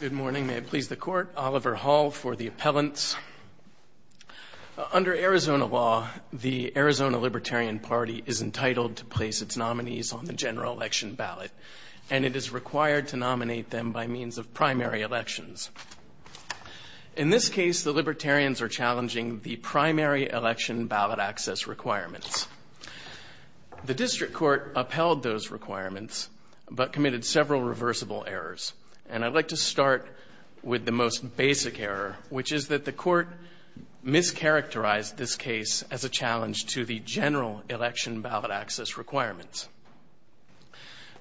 Good morning. May it please the court. Oliver Hall for the appellants. Under Arizona law, the Arizona Libertarian Party is entitled to place its nominees on the general election ballot, and it is required to nominate them by means of primary elections. In this case, the Libertarians are challenging the primary election ballot access requirements. The district court upheld those requirements, and the general election ballot is required to be nominated by means of primary elections. But committed several reversible errors. And I'd like to start with the most basic error, which is that the court mischaracterized this case as a challenge to the general election ballot access requirements.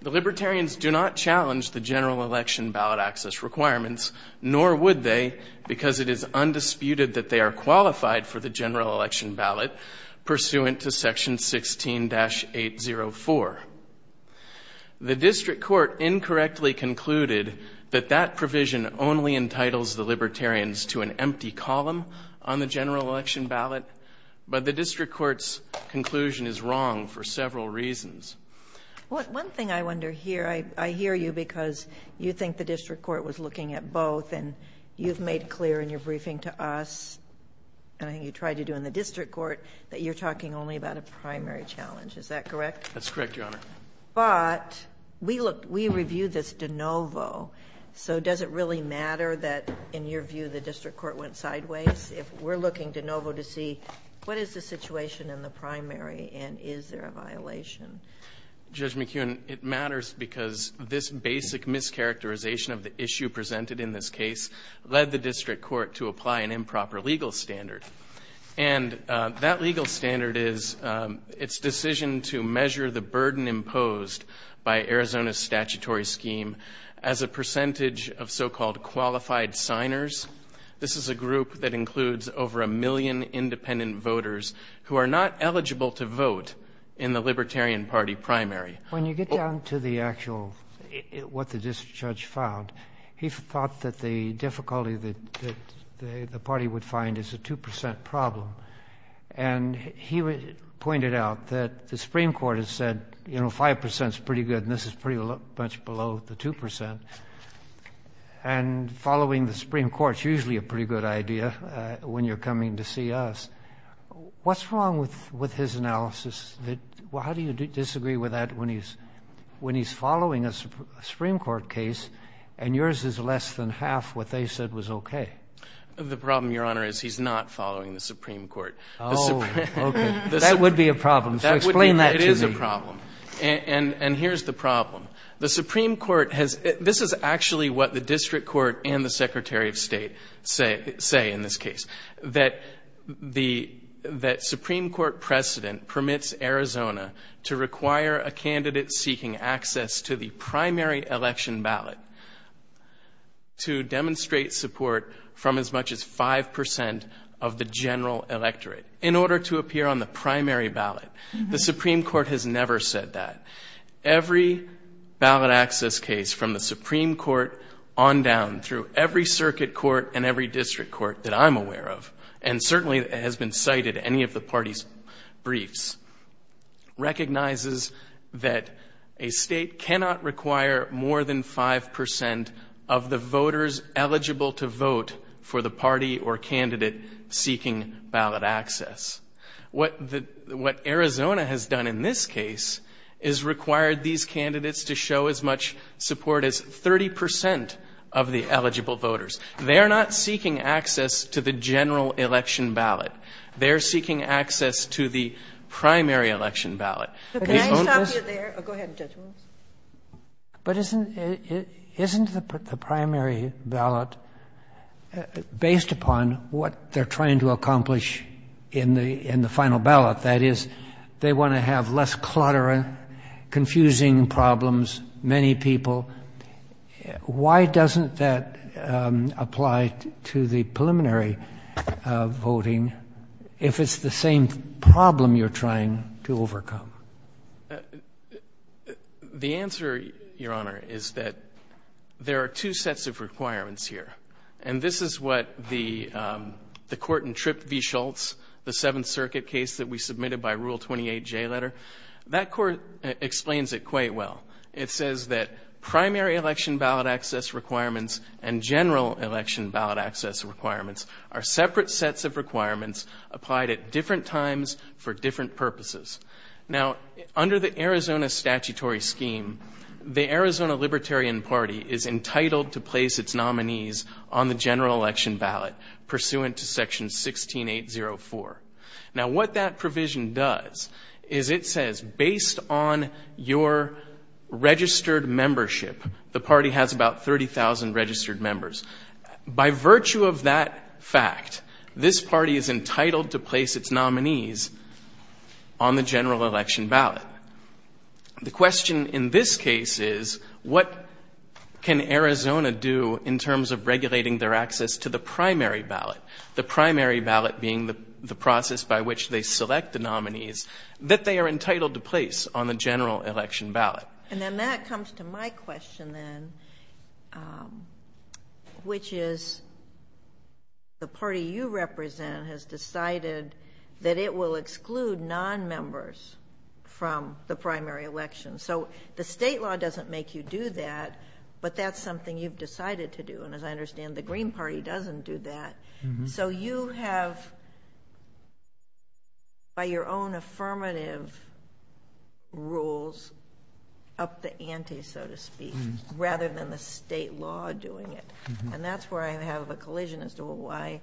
The Libertarians do not challenge the general election ballot access requirements, nor would they because it is undisputed that they are qualified for the general election ballot pursuant to section 16-804. The district court incorrectly concluded that that provision only entitles the Libertarians to an empty column on the general election ballot, but the district court's conclusion is wrong for several reasons. One thing I wonder here, I hear you because you think the district court was looking at both and you've made clear in your briefing to us, and I think you tried to do in the district court, that you're talking only about a primary challenge. Is that correct? That's correct, Your Honor. But we reviewed this de novo, so does it really matter that, in your view, the district court went sideways? If we're looking de novo to see what is the situation in the primary and is there a violation? Judge McKeown, it matters because this basic mischaracterization of the issue presented in this case led the district court to apply an improper legal standard. And that legal standard is its decision to measure the burden imposed by Arizona's statutory scheme as a percentage of so-called qualified signers. This is a group that includes over a million independent voters who are not eligible to vote in the Libertarian Party primary. When you get down to the actual, what the district judge found, he thought that the difficulty that the party would find is a 2 percent problem. And he pointed out that the Supreme Court has said, you know, 5 percent is pretty good and this is pretty much below the 2 percent. And following the Supreme Court is usually a pretty good idea when you're coming to see us. What's wrong with his analysis? How do you disagree with that when he's following a Supreme Court case and yours is less than half what they said was okay? The problem, Your Honor, is he's not following the Supreme Court. Oh, okay. That would be a problem. Explain that to me. It is a problem. And here's the problem. The Supreme Court has — this is actually what the district court and the Secretary of State say in this case, that the — that Supreme Court precedent permits Arizona to require a candidate seeking access to the primary election ballot to demonstrate support from as much as 5 percent of the general electorate in order to appear on the primary ballot. The Supreme Court has never said that. Every ballot access case from the Supreme Court on down through every circuit court and every district court that I'm aware of, and certainly has been cited in any of the parties' briefs, recognizes that a state cannot require more than 5 percent of the voters eligible to vote for the party or candidate seeking ballot access. What Arizona has done in this case is required these candidates to show as much support as 30 percent of the eligible voters. They're not seeking access to the general election ballot. They're seeking access to the primary election ballot. The only — But can I stop you there? Go ahead, Judge Rhoads. But isn't — isn't the primary ballot, based upon what they're trying to accomplish in the — in the final ballot, that is, they want to have less clutter, confusing problems, many people? Why doesn't that apply to the preliminary voting if it's the same problem you're trying to overcome? The answer, Your Honor, is that there are two sets of requirements here. And this is what the court in Tripp v. Schultz, the Seventh Circuit case that we submitted by Rule 28J letter, that court explains it quite well. It says that primary election ballot access requirements and general election ballot access requirements are separate sets of requirements applied at different times for different purposes. Now, under the Arizona statutory scheme, the Arizona Libertarian Party is entitled to place its nominees on the general election ballot pursuant to Section 16804. Now, what that provision does is it says, based on your registered membership, the party has about 30,000 registered members. By virtue of that fact, this party is entitled to place its nominees on the general election ballot. The question in this case is, what can Arizona do in terms of regulating their access to the primary ballot, the primary ballot being the process by which they select the nominees, that they are entitled to place on the general election ballot? And then that comes to my question then, which is the party you represent has decided that it will exclude nonmembers from the primary election. So the state law doesn't make you do that, but that's something you've decided to do. And as I understand, the Green Party doesn't do that. So you have, by your own affirmative rules, upped the ante, so to speak, rather than the state law doing it. And that's where I have a collision as to why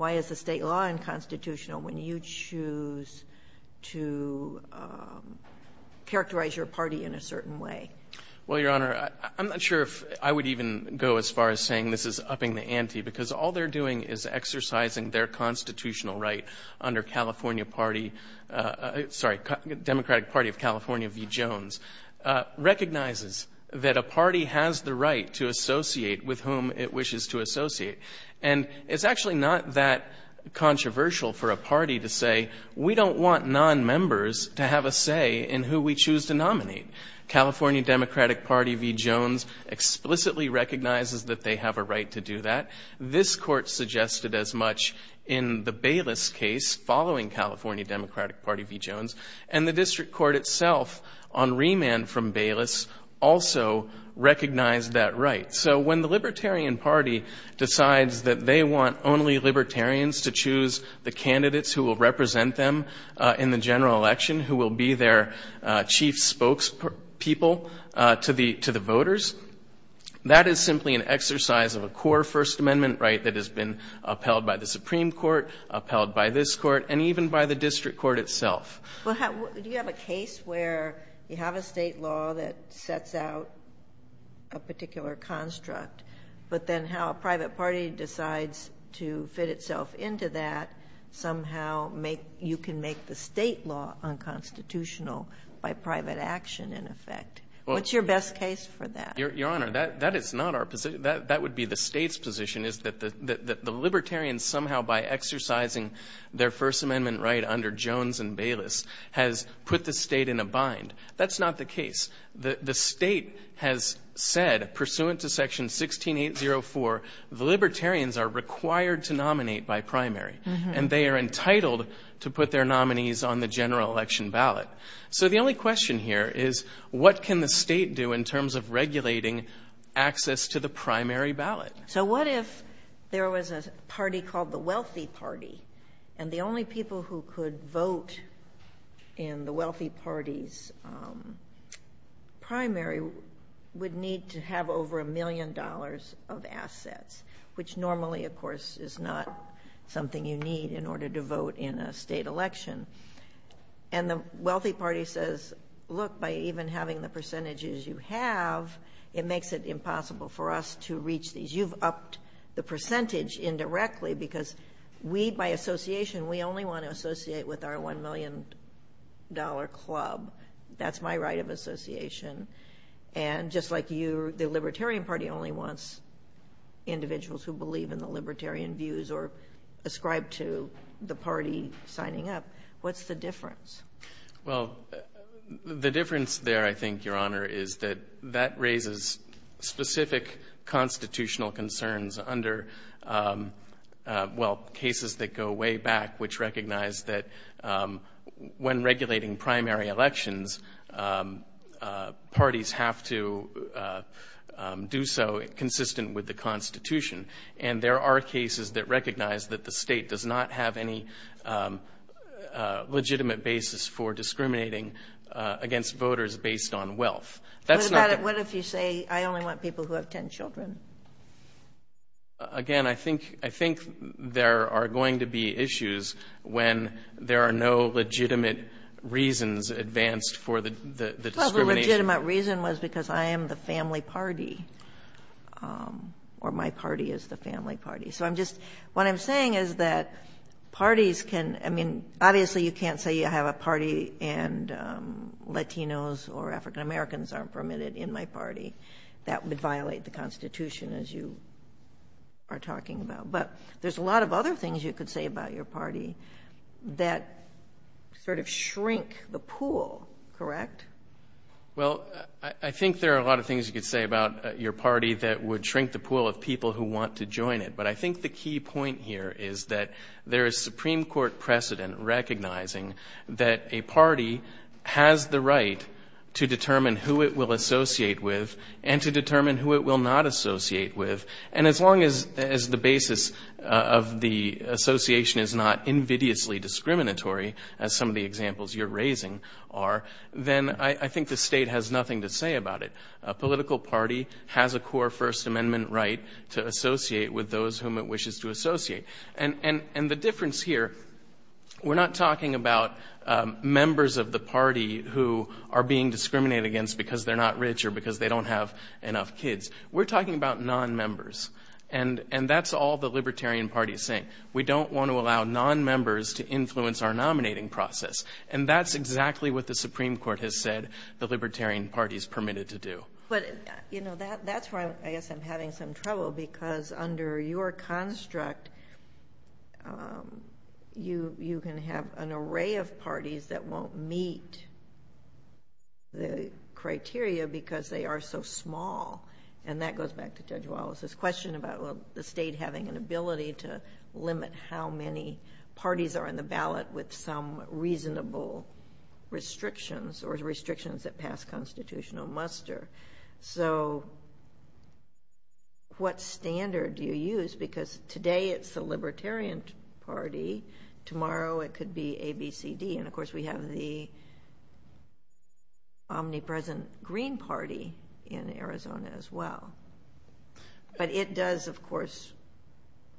is the state law unconstitutional when you choose to characterize your party in a certain way? Well, Your Honor, I'm not sure if I would even go as far as saying this is upping the ante, because all they're doing is exercising their constitutional right under California Party, sorry, Democratic Party of California v. Jones, recognizes that a party has the right to associate with whom it wishes to associate. And it's actually not that controversial for a party to say, we don't want nonmembers to have a say in who we choose to nominate. California Democratic Party v. Jones explicitly recognizes that they have a right to do that. This Court suggested as much in the Bayless case following California Democratic Party v. Jones. And the district court itself, on remand from Bayless, also recognized that right. So when the Libertarian Party decides that they want only Libertarians to choose the candidates who will represent them in the general election, who will be their chief spokespeople to the voters, that is simply an exercise of a core First Amendment right that has been upheld by the Supreme Court, upheld by this Court, and even by the district court itself. Do you have a case where you have a state law that sets out a particular construct, but then how a private party decides to fit itself into that, somehow you can make the state law unconstitutional by private action, in effect? What's your best case for that? Your Honor, that is not our position. That would be the State's position, is that the Libertarians somehow, by exercising their First Amendment right under Jones and Bayless, has put the State in a bind. That's not the case. The State has said, pursuant to Section 16804, the Libertarians are required to nominate by primary, and they are entitled to put their nominees on the general election ballot. So the only question here is, what can the State do in terms of regulating access to the primary ballot? So what if there was a party called the Wealthy Party, and the only people who could vote in the Wealthy Party's primary would need to have over a million dollars of assets, which normally, of course, is not something you need in order to vote in a state election. And the Wealthy Party says, look, by even having the percentages you have, it makes it impossible for us to reach these. You've upped the percentage indirectly because we, by association, we only want to associate with our $1 million club. That's my right of association. And just like you, the Libertarian Party only wants individuals who believe in the Libertarian views or ascribe to the party signing up. What's the difference? Well, the difference there, I think, Your Honor, is that that raises specific constitutional concerns under, well, cases that go way back which recognize that when regulating primary elections, parties have to do so consistent with the Constitution. And there are cases that recognize that the state does not have any legitimate basis for discriminating against voters based on wealth. What if you say I only want people who have 10 children? Again, I think there are going to be issues when there are no legitimate reasons advanced for the discrimination. The legitimate reason was because I am the family party or my party is the family party. So I'm just, what I'm saying is that parties can, I mean, obviously you can't say you have a party and Latinos or African Americans aren't permitted in my party. That would violate the Constitution as you are talking about. But there's a lot of other things you could say about your party that sort of shrink the pool, correct? Well, I think there are a lot of things you could say about your party that would shrink the pool of people who want to join it. But I think the key point here is that there is Supreme Court precedent recognizing that a party has the right to determine who it will associate with and to determine who it will not associate with. And as long as the basis of the association is not invidiously discriminatory, as some of the examples you're raising are, then I think the state has nothing to say about it. A political party has a core First Amendment right to associate with those whom it wishes to associate. And the difference here, we're not talking about members of the party who are being discriminated against because they're not rich or because they don't have enough kids. We're talking about non-members. And that's all the Libertarian Party is saying. We don't want to allow non-members to influence our nominating process. And that's exactly what the Supreme Court has said the Libertarian Party is permitted to do. But, you know, that's where I guess I'm having some trouble because under your construct, you can have an array of parties that won't meet the criteria because they are so small. And that goes back to Judge Wallace's question about the state having an ability to limit how many parties are in the ballot with some reasonable restrictions or restrictions that pass constitutional muster. So what standard do you use? Because today it's the Libertarian Party. Tomorrow it could be ABCD. And, of course, we have the omnipresent Green Party in Arizona as well. But it does, of course,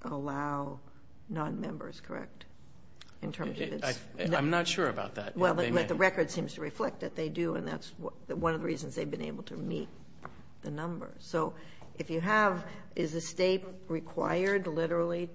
allow non-members, correct? I'm not sure about that. Well, the record seems to reflect that they do, and that's one of the reasons they've been able to meet the numbers. So if you have, is the state required literally,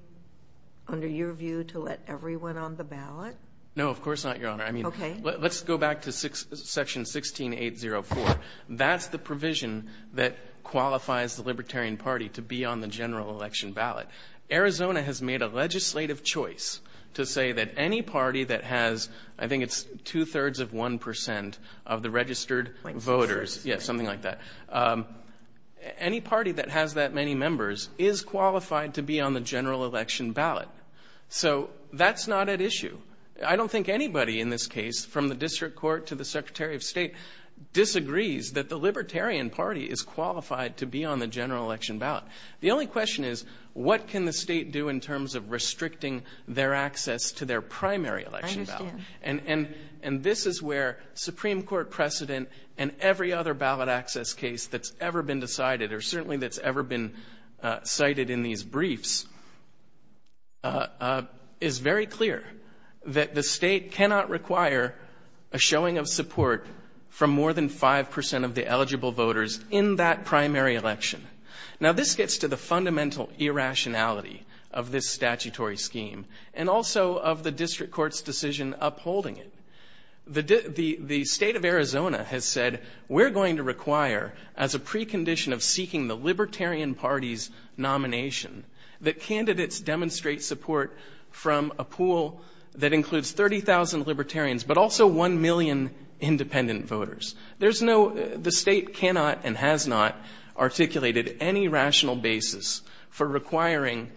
under your view, to let everyone on the ballot? No, of course not, Your Honor. Okay. Let's go back to Section 16804. That's the provision that qualifies the Libertarian Party to be on the general election ballot. Arizona has made a legislative choice to say that any party that has, I think it's two-thirds of one percent of the registered voters, yes, something like that, any party that has that many members is qualified to be on the general election ballot. So that's not at issue. I don't think anybody in this case, from the District Court to the Secretary of State, disagrees that the Libertarian Party is qualified to be on the general election ballot. The only question is, what can the state do in terms of restricting their access to their primary election ballot? I understand. And this is where Supreme Court precedent and every other ballot access case that's ever been decided, or certainly that's ever been cited in these briefs, is very clear that the state cannot require a showing of support from more than five percent of the eligible voters in that primary election. Now, this gets to the fundamental irrationality of this statutory scheme and also of the District Court's decision upholding it. The state of Arizona has said, we're going to require, as a precondition of seeking the Libertarian Party's nomination, that candidates demonstrate support from a pool that includes 30,000 Libertarians but also one million independent voters. There's no, the state cannot and has not articulated any rational basis for requiring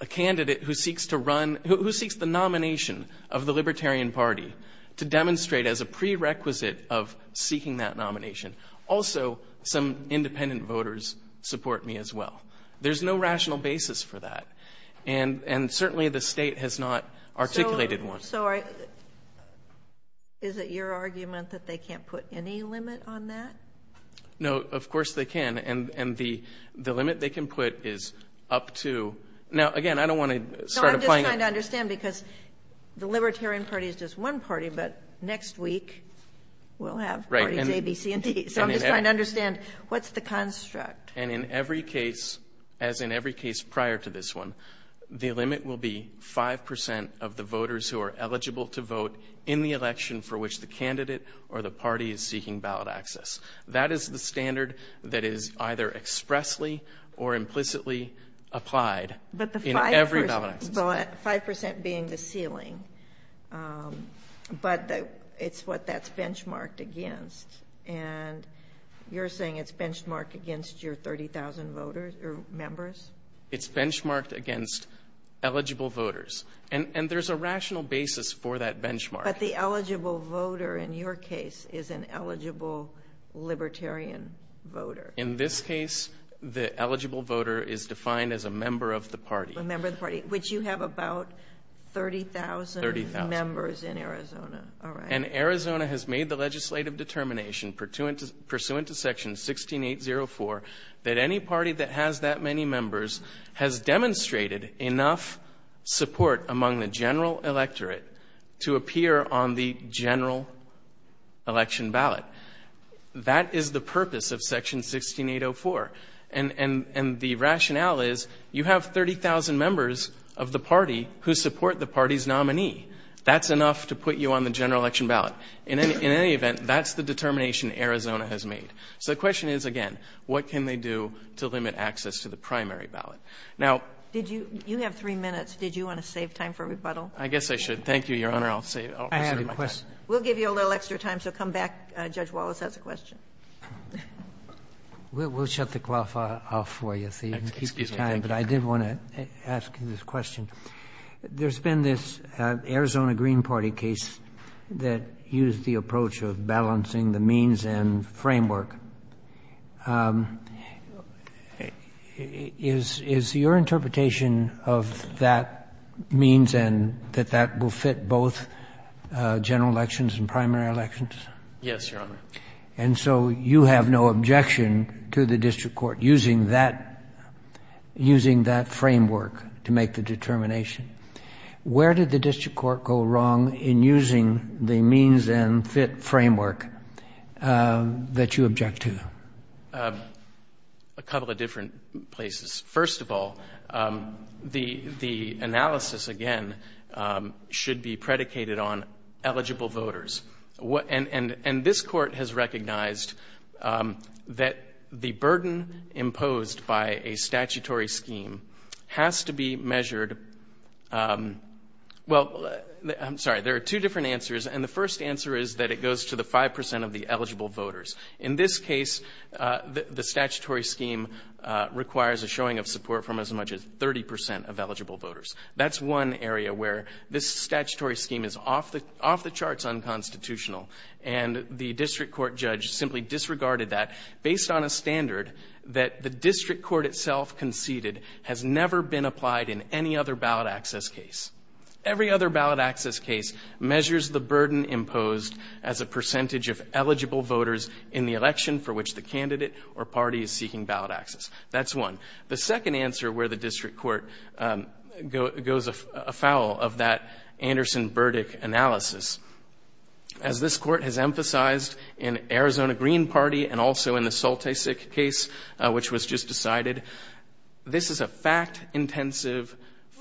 a candidate who seeks to run, who seeks the nomination of the Libertarian Party to demonstrate as a prerequisite of seeking that nomination. Also, some independent voters support me as well. There's no rational basis for that. And certainly the state has not articulated one. So is it your argument that they can't put any limit on that? No, of course they can. And the limit they can put is up to, now, again, I don't want to start applying it. So I'm just trying to understand, because the Libertarian Party is just one party, but next week we'll have parties A, B, C, and D. So I'm just trying to understand, what's the construct? And in every case, as in every case prior to this one, the limit will be 5 percent of the voters who are eligible to vote in the election for which the candidate or the party is seeking ballot access. That is the standard that is either expressly or implicitly applied in every ballot access. But the 5 percent being the ceiling, but it's what that's benchmarked against. And you're saying it's benchmarked against your 30,000 voters or members? It's benchmarked against eligible voters. And there's a rational basis for that benchmark. But the eligible voter in your case is an eligible Libertarian voter. In this case, the eligible voter is defined as a member of the party. A member of the party, which you have about 30,000 members in Arizona. And Arizona has made the legislative determination pursuant to Section 16804 that any party that has that many members has demonstrated enough support among the general electorate to appear on the general election ballot. That is the purpose of Section 16804. And the rationale is you have 30,000 members of the party who support the party's nominee. That's enough to put you on the general election ballot. In any event, that's the determination Arizona has made. So the question is, again, what can they do to limit access to the primary ballot? Now you have three minutes. Did you want to save time for rebuttal? I guess I should. Thank you, Your Honor. I'll save my time. I have a question. We'll give you a little extra time, so come back. Judge Wallace has a question. We'll shut the clock off for you so you can keep time. But I did want to ask you this question. There's been this Arizona Green Party case that used the approach of balancing the means and framework. Is your interpretation of that means and that that will fit both general elections and primary elections? Yes, Your Honor. And so you have no objection to the district court using that framework to make the determination. Where did the district court go wrong in using the means and fit framework that you object to? A couple of different places. First of all, the analysis, again, should be predicated on eligible voters. And this court has recognized that the burden imposed by a statutory scheme has to be measured. Well, I'm sorry, there are two different answers. And the first answer is that it goes to the 5% of the eligible voters. In this case, the statutory scheme requires a showing of support from as much as 30% of eligible voters. That's one area where this statutory scheme is off the charts unconstitutional. And the district court judge simply disregarded that based on a standard that the district court itself conceded has never been applied in any other ballot access case. Every other ballot access case measures the burden imposed as a percentage of eligible voters in the election for which the candidate or party is seeking ballot access. That's one. The second answer where the district court goes afoul of that Anderson-Burdick analysis, as this court has emphasized in Arizona Green Party and also in the Saltisik case, which was just decided, this is a fact-intensive,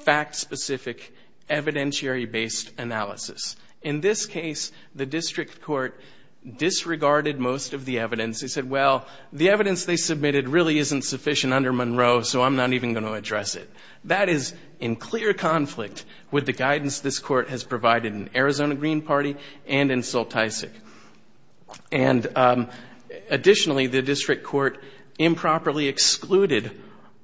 fact-specific, evidentiary-based analysis. In this case, the district court disregarded most of the evidence. They said, well, the evidence they submitted really isn't sufficient under Monroe, so I'm not even going to address it. That is in clear conflict with the guidance this court has provided in Arizona Green Party and in Saltisik. And additionally, the district court improperly excluded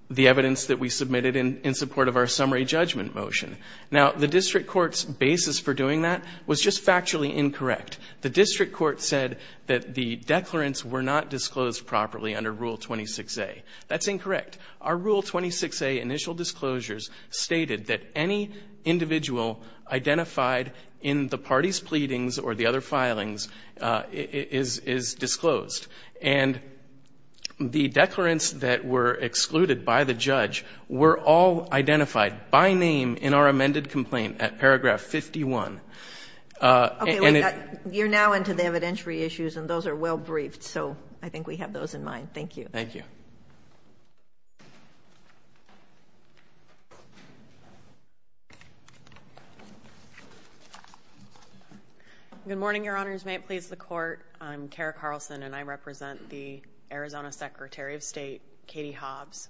the evidence that we submitted in support of our summary judgment motion. Now, the district court's basis for doing that was just factually incorrect. The district court said that the declarants were not disclosed properly under Rule 26A. That's incorrect. Our Rule 26A initial disclosures stated that any individual identified in the party's pleadings or the other filings is disclosed. And the declarants that were excluded by the judge were all identified by name in our amended complaint at paragraph 51. Okay. You're now into the evidentiary issues, and those are well-briefed, so I think we have those in mind. Thank you. Thank you. Good morning, Your Honors. May it please the Court, I'm Tara Carlson, and I represent the Arizona Secretary of State, Katie Hobbs.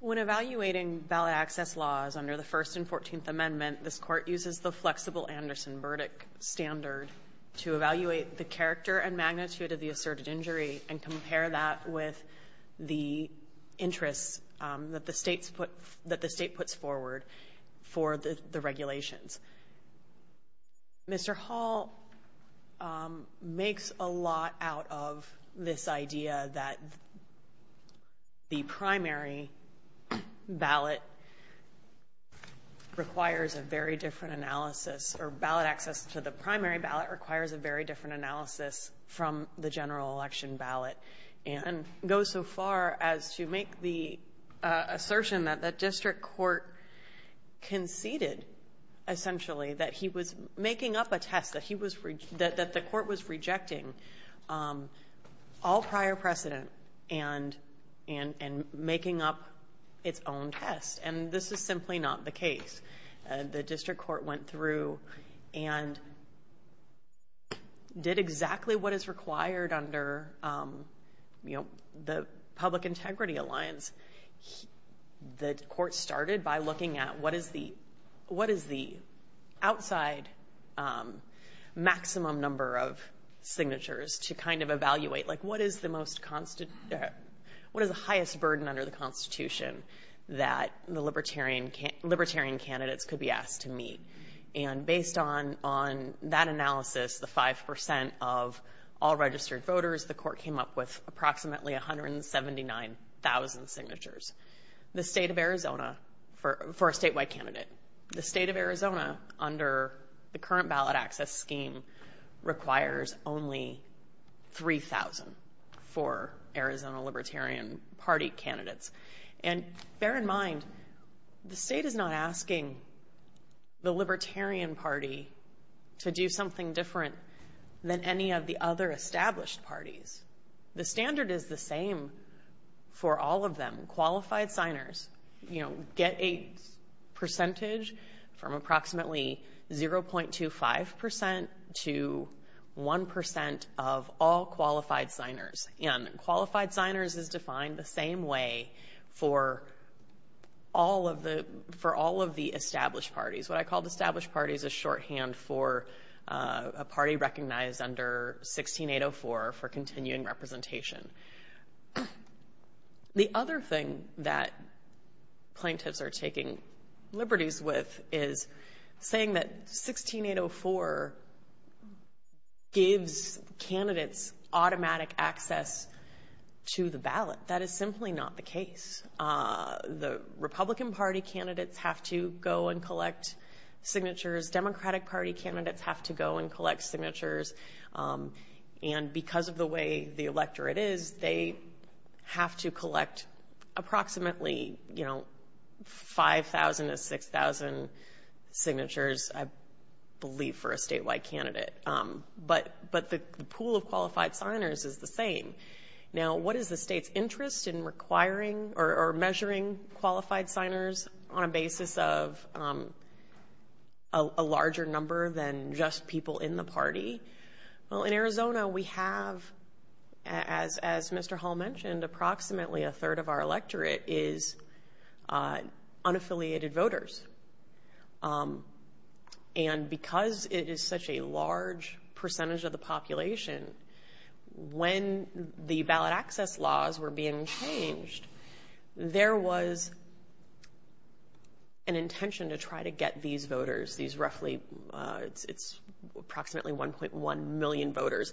When evaluating ballot access laws under the First and Fourteenth Amendment, this court uses the flexible Anderson verdict standard to evaluate the character and magnitude of the asserted injury and compare that with the interests that the state puts forward for the regulations. Mr. Hall makes a lot out of this idea that the primary ballot requires a very different analysis, or ballot access to the primary ballot requires a very different analysis from the general election ballot, and goes so far as to make the assertion that the district court conceded, essentially, that he was making up a test that the court was rejecting all prior precedent and making up its own test. And this is simply not the case. The district court went through and did exactly what is required under the Public Integrity Alliance. The court started by looking at what is the outside maximum number of signatures to kind of evaluate, like what is the highest burden under the Constitution that the libertarian candidates could be asked to meet? And based on that analysis, the 5% of all registered voters, the court came up with approximately 179,000 signatures. The state of Arizona, for a statewide candidate, the state of Arizona, under the current ballot access scheme, requires only 3,000 for Arizona Libertarian Party candidates. And bear in mind, the state is not asking the Libertarian Party to do something different than any of the other established parties. The standard is the same for all of them. Qualified signers get a percentage from approximately 0.25% to 1% of all qualified signers. And qualified signers is defined the same way for all of the established parties. What I call the established parties is shorthand for a party recognized under 16804 for continuing representation. The other thing that plaintiffs are taking liberties with is saying that 16804 gives candidates automatic access to the ballot. That is simply not the case. The Republican Party candidates have to go and collect signatures. Democratic Party candidates have to go and collect signatures. And because of the way the electorate is, they have to collect approximately 5,000 to 6,000 signatures, I believe, for a statewide candidate. But the pool of qualified signers is the same. Now, what is the state's interest in requiring or measuring qualified signers on a basis of a larger number than just people in the party? Well, in Arizona, we have, as Mr. Hall mentioned, approximately a third of our electorate is unaffiliated voters. And because it is such a large percentage of the population, when the ballot access laws were being changed, there was an intention to try to get these voters, these roughly, it's approximately 1.1 million voters,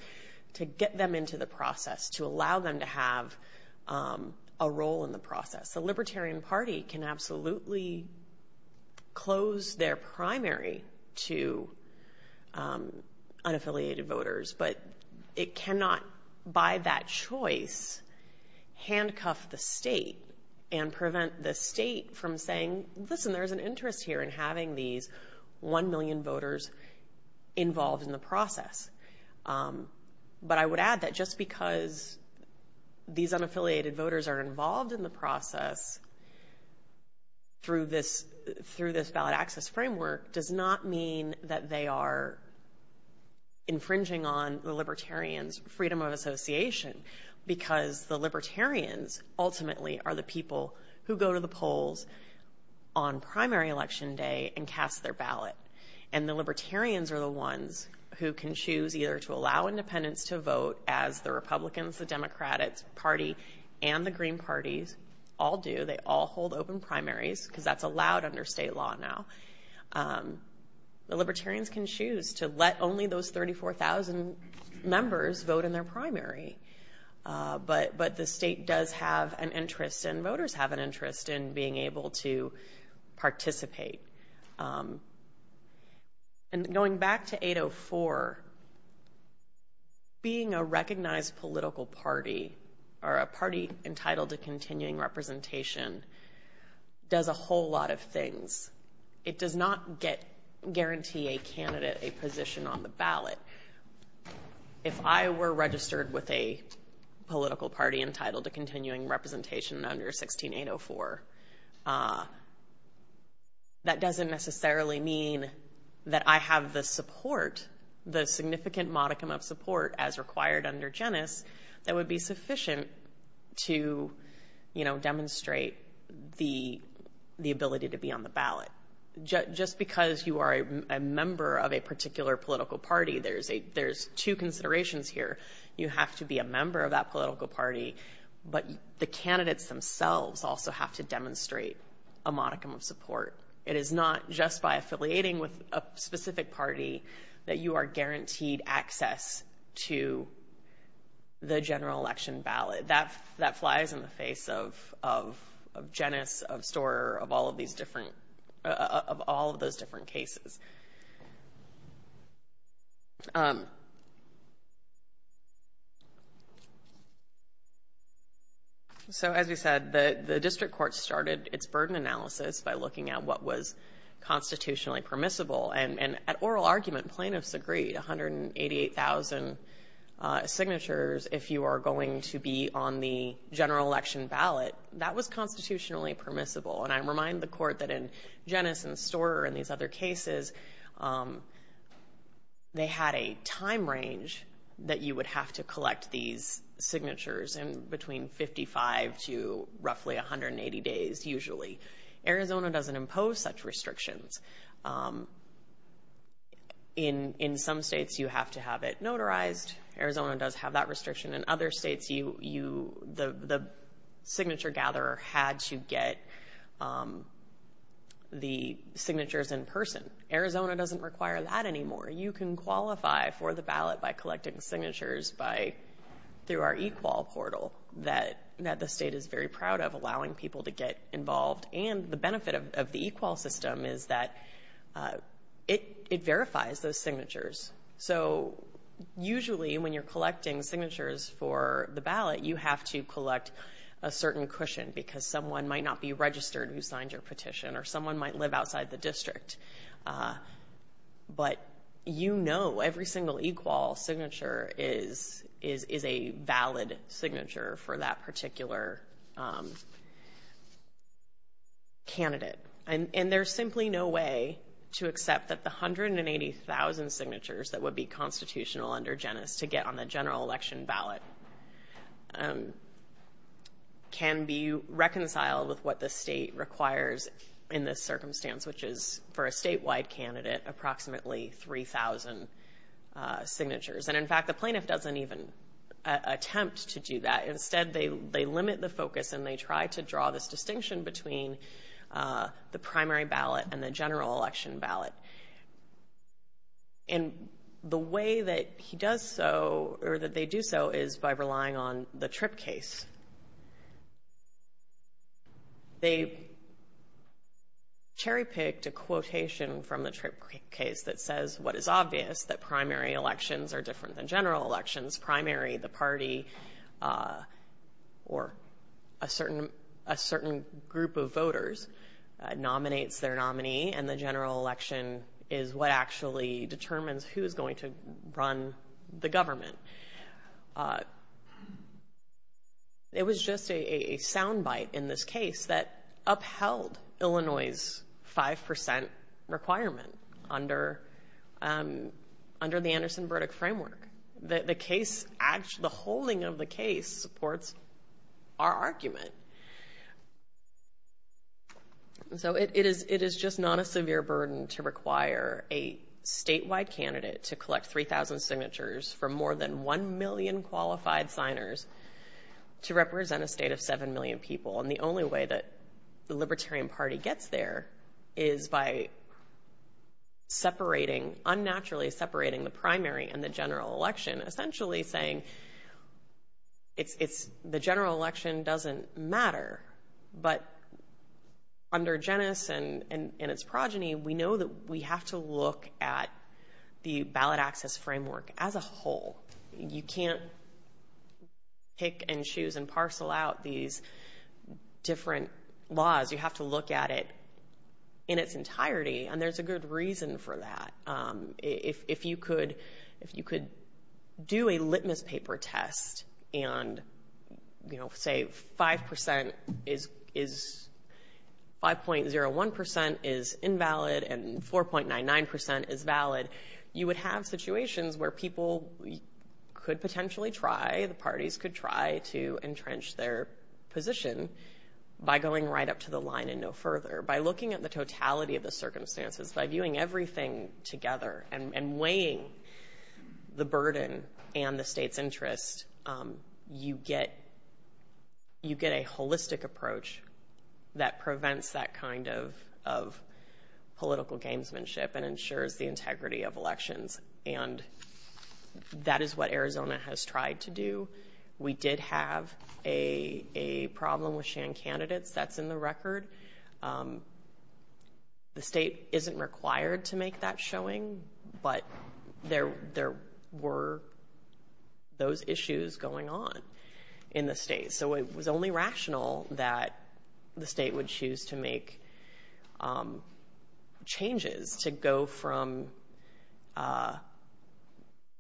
to get them into the process, to allow them to have a role in the process. The Libertarian Party can absolutely close their primary to unaffiliated voters, but it cannot, by that choice, handcuff the state and prevent the state from saying, listen, there's an interest here in having these 1 million voters involved in the process. But I would add that just because these unaffiliated voters are involved in the process through this ballot access framework does not mean that they are infringing on the Libertarians' freedom of association, because the Libertarians ultimately are the people who go to the polls on primary election day and cast their ballot. And the Libertarians are the ones who can choose either to allow independents to vote, as the Republicans, the Democrats Party, and the Green Party all do. They all hold open primaries, because that's allowed under state law now. The Libertarians can choose to let only those 34,000 members vote in their primary. But the state does have an interest, and voters have an interest, in being able to participate. And going back to 804, being a recognized political party, or a party entitled to continuing representation, does a whole lot of things. It does not guarantee a candidate a position on the ballot. If I were registered with a political party entitled to continuing representation under 16804, that doesn't necessarily mean that I have the support, the significant modicum of support, as required under Genes, that would be sufficient to demonstrate the ability to be on the ballot. Just because you are a member of a particular political party, there's two considerations here. You have to be a member of that political party, but the candidates themselves also have to demonstrate a modicum of support. It is not just by affiliating with a specific party that you are guaranteed access to the general election ballot. That flies in the face of Genes, of Storer, of all of those different cases. So as we said, the district court started its burden analysis by looking at what was constitutionally permissible. And at oral argument, plaintiffs agreed, 188,000 signatures if you are going to be on the general election ballot, that was constitutionally permissible. And I remind the court that in Genes and Storer and these other cases, they had a time range that you would have to collect these signatures in between 55 to roughly 180 days, usually. Arizona doesn't impose such restrictions. In some states, you have to have it notarized. Arizona does have that restriction. In other states, the signature gatherer had to get the signatures in person. Arizona doesn't require that anymore. You can qualify for the ballot by collecting signatures through our eQual portal that the state is very proud of allowing people to get involved. And the benefit of the eQual system is that it verifies those signatures. So usually when you're collecting signatures for the ballot, you have to collect a certain cushion because someone might not be registered who signed your petition or someone might live outside the district. But you know every single eQual signature is a valid signature for that particular candidate. And there's simply no way to accept that the 180,000 signatures that would be constitutional under Genes to get on the general election ballot can be reconciled with what the state requires in this circumstance, which is for a statewide candidate, approximately 3,000 signatures. And in fact, the plaintiff doesn't even attempt to do that. Instead, they limit the focus and they try to draw this distinction between the primary ballot and the general election ballot. And the way that he does so or that they do so is by relying on the trip case. They cherry-picked a quotation from the trip case that says what is obvious, that primary elections are different than general elections. Primary, the party or a certain group of voters nominates their nominee and the general election is what actually determines who is going to run the government. It was just a sound bite in this case that upheld Illinois' 5% requirement under the Anderson-Burdick framework. The holding of the case supports our argument. So it is just not a severe burden to require a statewide candidate to collect 3,000 signatures from more than 1 million qualified signers to represent a state of 7 million people. And the only way that the Libertarian Party gets there is by separating, unnaturally separating the primary and the general election, essentially saying the general election doesn't matter. But under Genes and its progeny, we know that we have to look at the ballot access framework as a whole. You can't pick and choose and parcel out these different laws. You have to look at it in its entirety and there's a good reason for that. If you could do a litmus paper test and say 5.01% is invalid and 4.99% is valid, you would have situations where people could potentially try, the parties could try to entrench their position by going right up to the line and no further. By looking at the totality of the circumstances, by viewing everything together and weighing the burden and the state's interest, you get a holistic approach that prevents that kind of political gamesmanship and ensures the integrity of elections. And that is what Arizona has tried to do. We did have a problem with Shan candidates. That's in the record. The state isn't required to make that showing, but there were those issues going on in the state. So it was only rational that the state would choose to make changes to go from The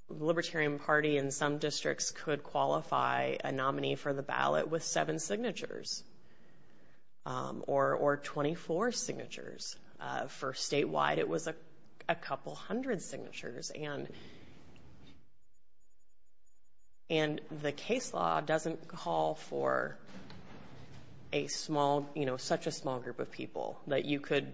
Libertarian Party in some districts could qualify a nominee for the ballot with seven signatures or 24 signatures. For statewide, it was a couple hundred signatures. And the case law doesn't call for such a small group of people that you could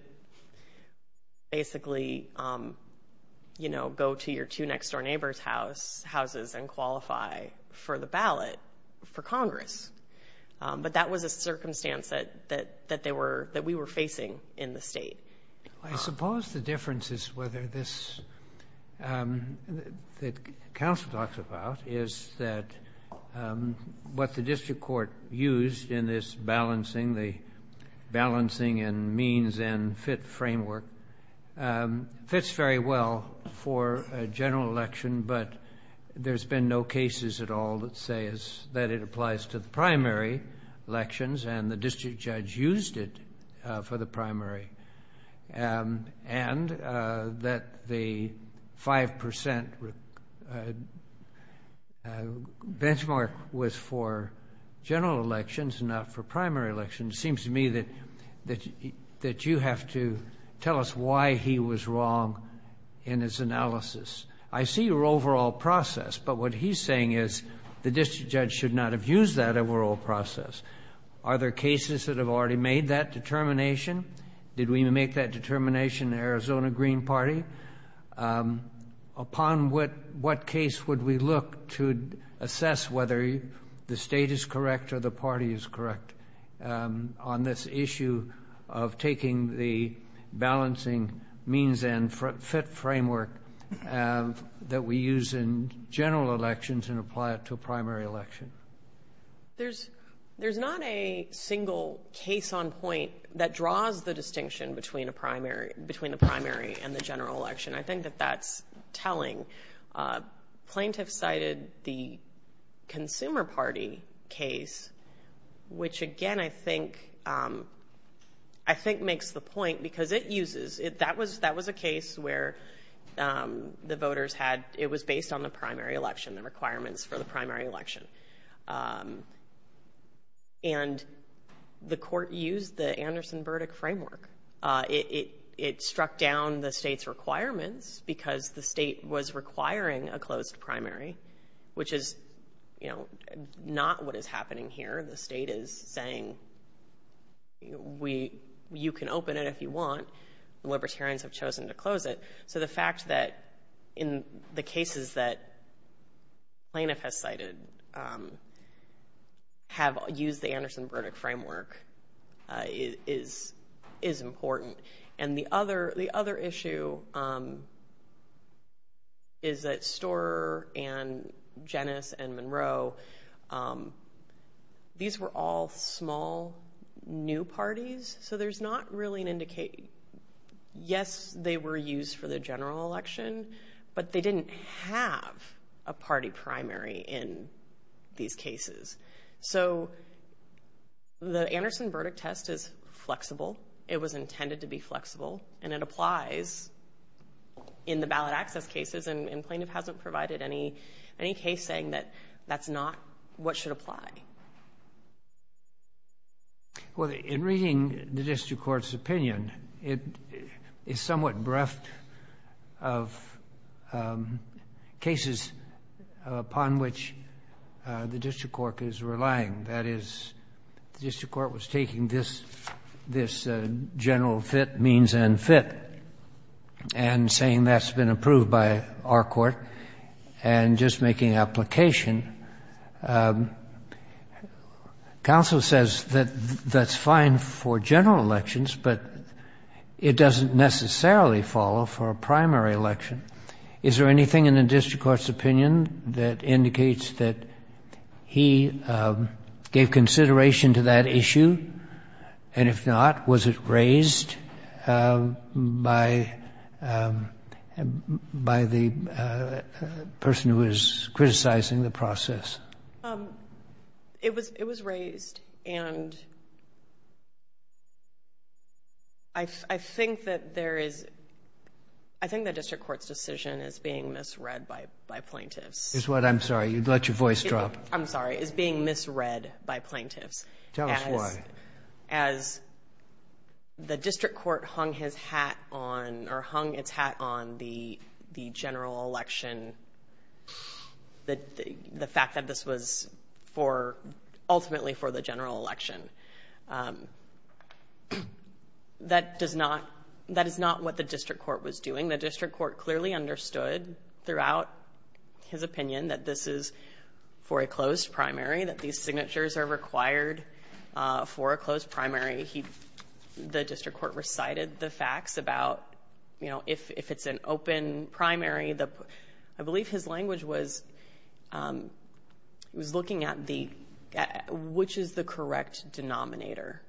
basically go to your two next-door neighbor's houses and qualify for the ballot for Congress. But that was a circumstance that we were facing in the state. I suppose the difference is whether this council talks about is that what the district court used in this balancing and means and fit framework fits very well for a general election, but there's been no cases at all that say that it applies to the primary elections, and the district judge used it for the primary. And that the 5% benchmark was for general elections, not for primary elections. It seems to me that you have to tell us why he was wrong in his analysis. I see your overall process, but what he's saying is the district judge should not have used that overall process. Are there cases that have already made that determination? Did we make that determination in the Arizona Green Party? Upon what case would we look to assess whether the state is correct or the party is correct on this issue of taking the balancing means and fit framework that we use in general elections and apply it to a primary election? There's not a single case on point that draws the distinction between the primary and the general election. I think that that's telling. Plaintiffs cited the Consumer Party case, which again I think makes the point because it uses, that was a case where the voters had, it was based on the primary election, the requirements for the primary election. And the court used the Anderson-Burdick framework. It struck down the state's requirements because the state was requiring a closed primary, which is not what is happening here. The state is saying you can open it if you want. Libertarians have chosen to close it. So the fact that in the cases that plaintiff has cited have used the Anderson-Burdick framework is important. And the other issue is that Storer and Jennis and Monroe, these were all small, new parties. So there's not really an indication. Yes, they were used for the general election, but they didn't have a party primary in these cases. So the Anderson-Burdick test is flexible. It was intended to be flexible, and it applies in the ballot access cases, and plaintiff hasn't provided any case saying that that's not what should apply. Well, in reading the district court's opinion, it is somewhat bereft of cases upon which the district court is relying. That is, the district court was taking this general fit, means and fit, and saying that's been approved by our court, and just making application. Counsel says that that's fine for general elections, but it doesn't necessarily follow for a primary election. Is there anything in the district court's opinion that indicates that he gave consideration to that issue? And if not, was it raised by the person who is criticizing the process? It was raised, and I think that there is, I think the district court's decision is being misread by plaintiffs. I'm sorry, you let your voice drop. I'm sorry, is being misread by plaintiffs. Tell us why. As the district court hung his hat on, or hung its hat on the general election, the fact that this was ultimately for the general election. That is not what the district court was doing. The district court clearly understood throughout his opinion that this is for a closed primary, that these signatures are required for a closed primary. The district court recited the facts about if it's an open primary. I believe his language was looking at which is the correct denominator.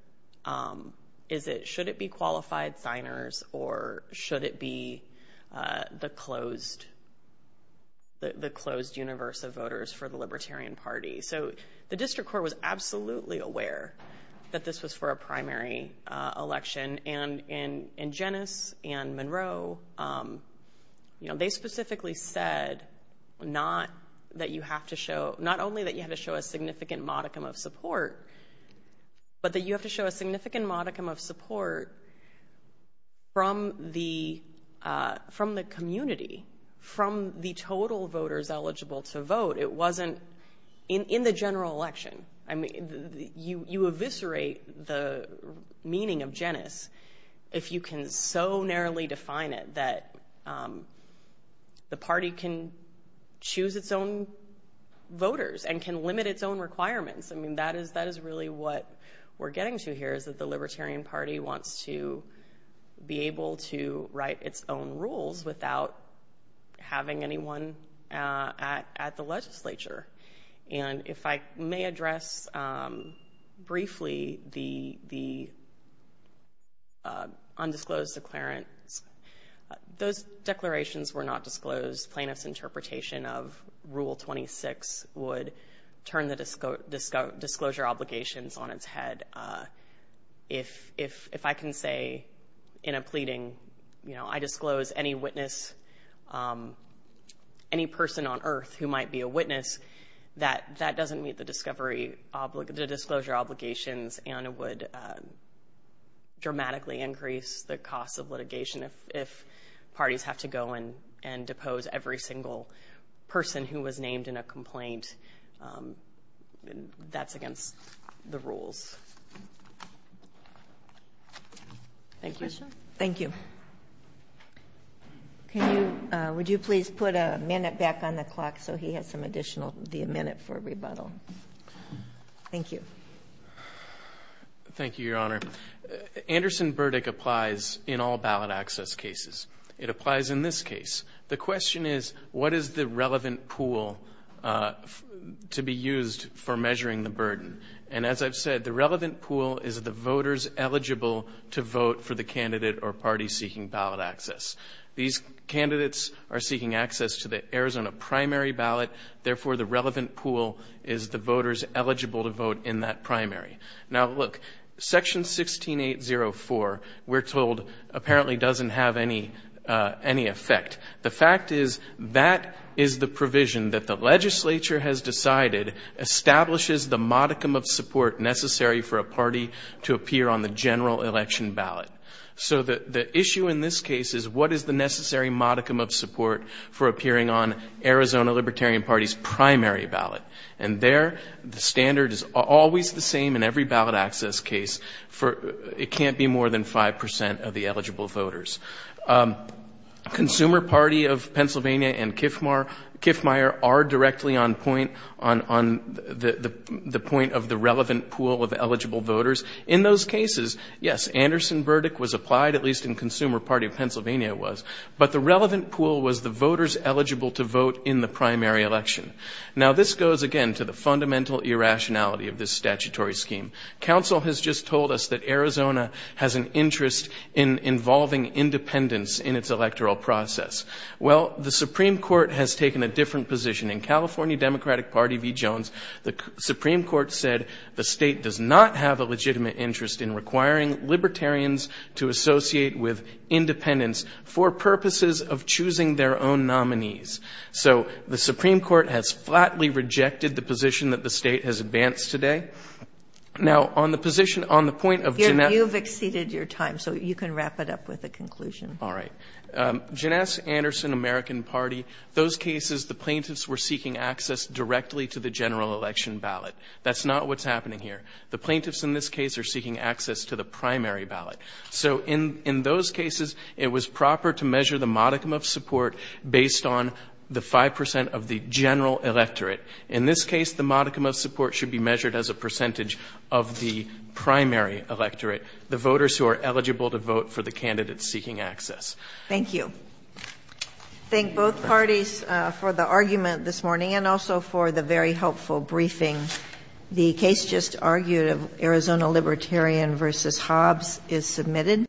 Should it be qualified signers, or should it be the closed universe of voters for the Libertarian Party? So the district court was absolutely aware that this was for a primary election, and Jennis and Monroe, they specifically said not that you have to show, not only that you have to show a significant modicum of support, but that you have to show a significant modicum of support from the community, from the total voters eligible to vote. It wasn't in the general election. You eviscerate the meaning of Jennis if you can so narrowly define it that the party can choose its own voters and can limit its own requirements. That is really what we're getting to here, is that the Libertarian Party wants to be able to write its own rules without having anyone at the legislature. And if I may address briefly the undisclosed declarants, those declarations were not disclosed. Plaintiffs' interpretation of Rule 26 would turn the disclosure obligations on its head. If I can say in a pleading, you know, I disclose any witness, any person on earth who might be a witness, that that doesn't meet the disclosure obligations and would dramatically increase the cost of litigation if parties have to go and depose every single person who was named in a complaint, that's against the rules. Thank you. Thank you. Would you please put a minute back on the clock so he has some additional minute for rebuttal? Thank you. Thank you, Your Honor. Anderson Burdick applies in all ballot access cases. It applies in this case. The question is, what is the relevant pool to be used for measuring the burden? And as I've said, the relevant pool is the voters eligible to vote for the candidate or party seeking ballot access. These candidates are seeking access to the Arizona primary ballot. Therefore, the relevant pool is the voters eligible to vote in that primary. Now, look, Section 16804, we're told, apparently doesn't have any effect. The fact is that is the provision that the legislature has decided establishes the modicum of support necessary for a party to appear on the general election ballot. So the issue in this case is, what is the necessary modicum of support for appearing on Arizona Libertarian Party's primary ballot? And there, the standard is always the same in every ballot access case. It can't be more than 5% of the eligible voters. Consumer Party of Pennsylvania and Kiffmeyer are directly on point, on the point of the relevant pool of eligible voters. In those cases, yes, Anderson Burdick was applied, at least in Consumer Party of Pennsylvania was, but the relevant pool was the voters eligible to vote in the primary election. Now, this goes, again, to the fundamental irrationality of this statutory scheme. Council has just told us that Arizona has an interest in involving independents in its electoral process. Well, the Supreme Court has taken a different position. In California Democratic Party v. Jones, the Supreme Court said the state does not have a legitimate interest in requiring libertarians to associate with independents for purposes of choosing their own nominees. So the Supreme Court has flatly rejected the position that the state has advanced today. Okay. Now, on the position, on the point of Janesse You've exceeded your time, so you can wrap it up with a conclusion. All right. Janesse Anderson, American Party, those cases the plaintiffs were seeking access directly to the general election ballot. That's not what's happening here. The plaintiffs in this case are seeking access to the primary ballot. So in those cases, it was proper to measure the modicum of support based on the 5% of the general electorate. In this case, the modicum of support should be measured as a percentage of the primary electorate, the voters who are eligible to vote for the candidates seeking access. Thank you. Thank both parties for the argument this morning and also for the very helpful briefing. The case just argued of Arizona Libertarian v. Hobbs is submitted.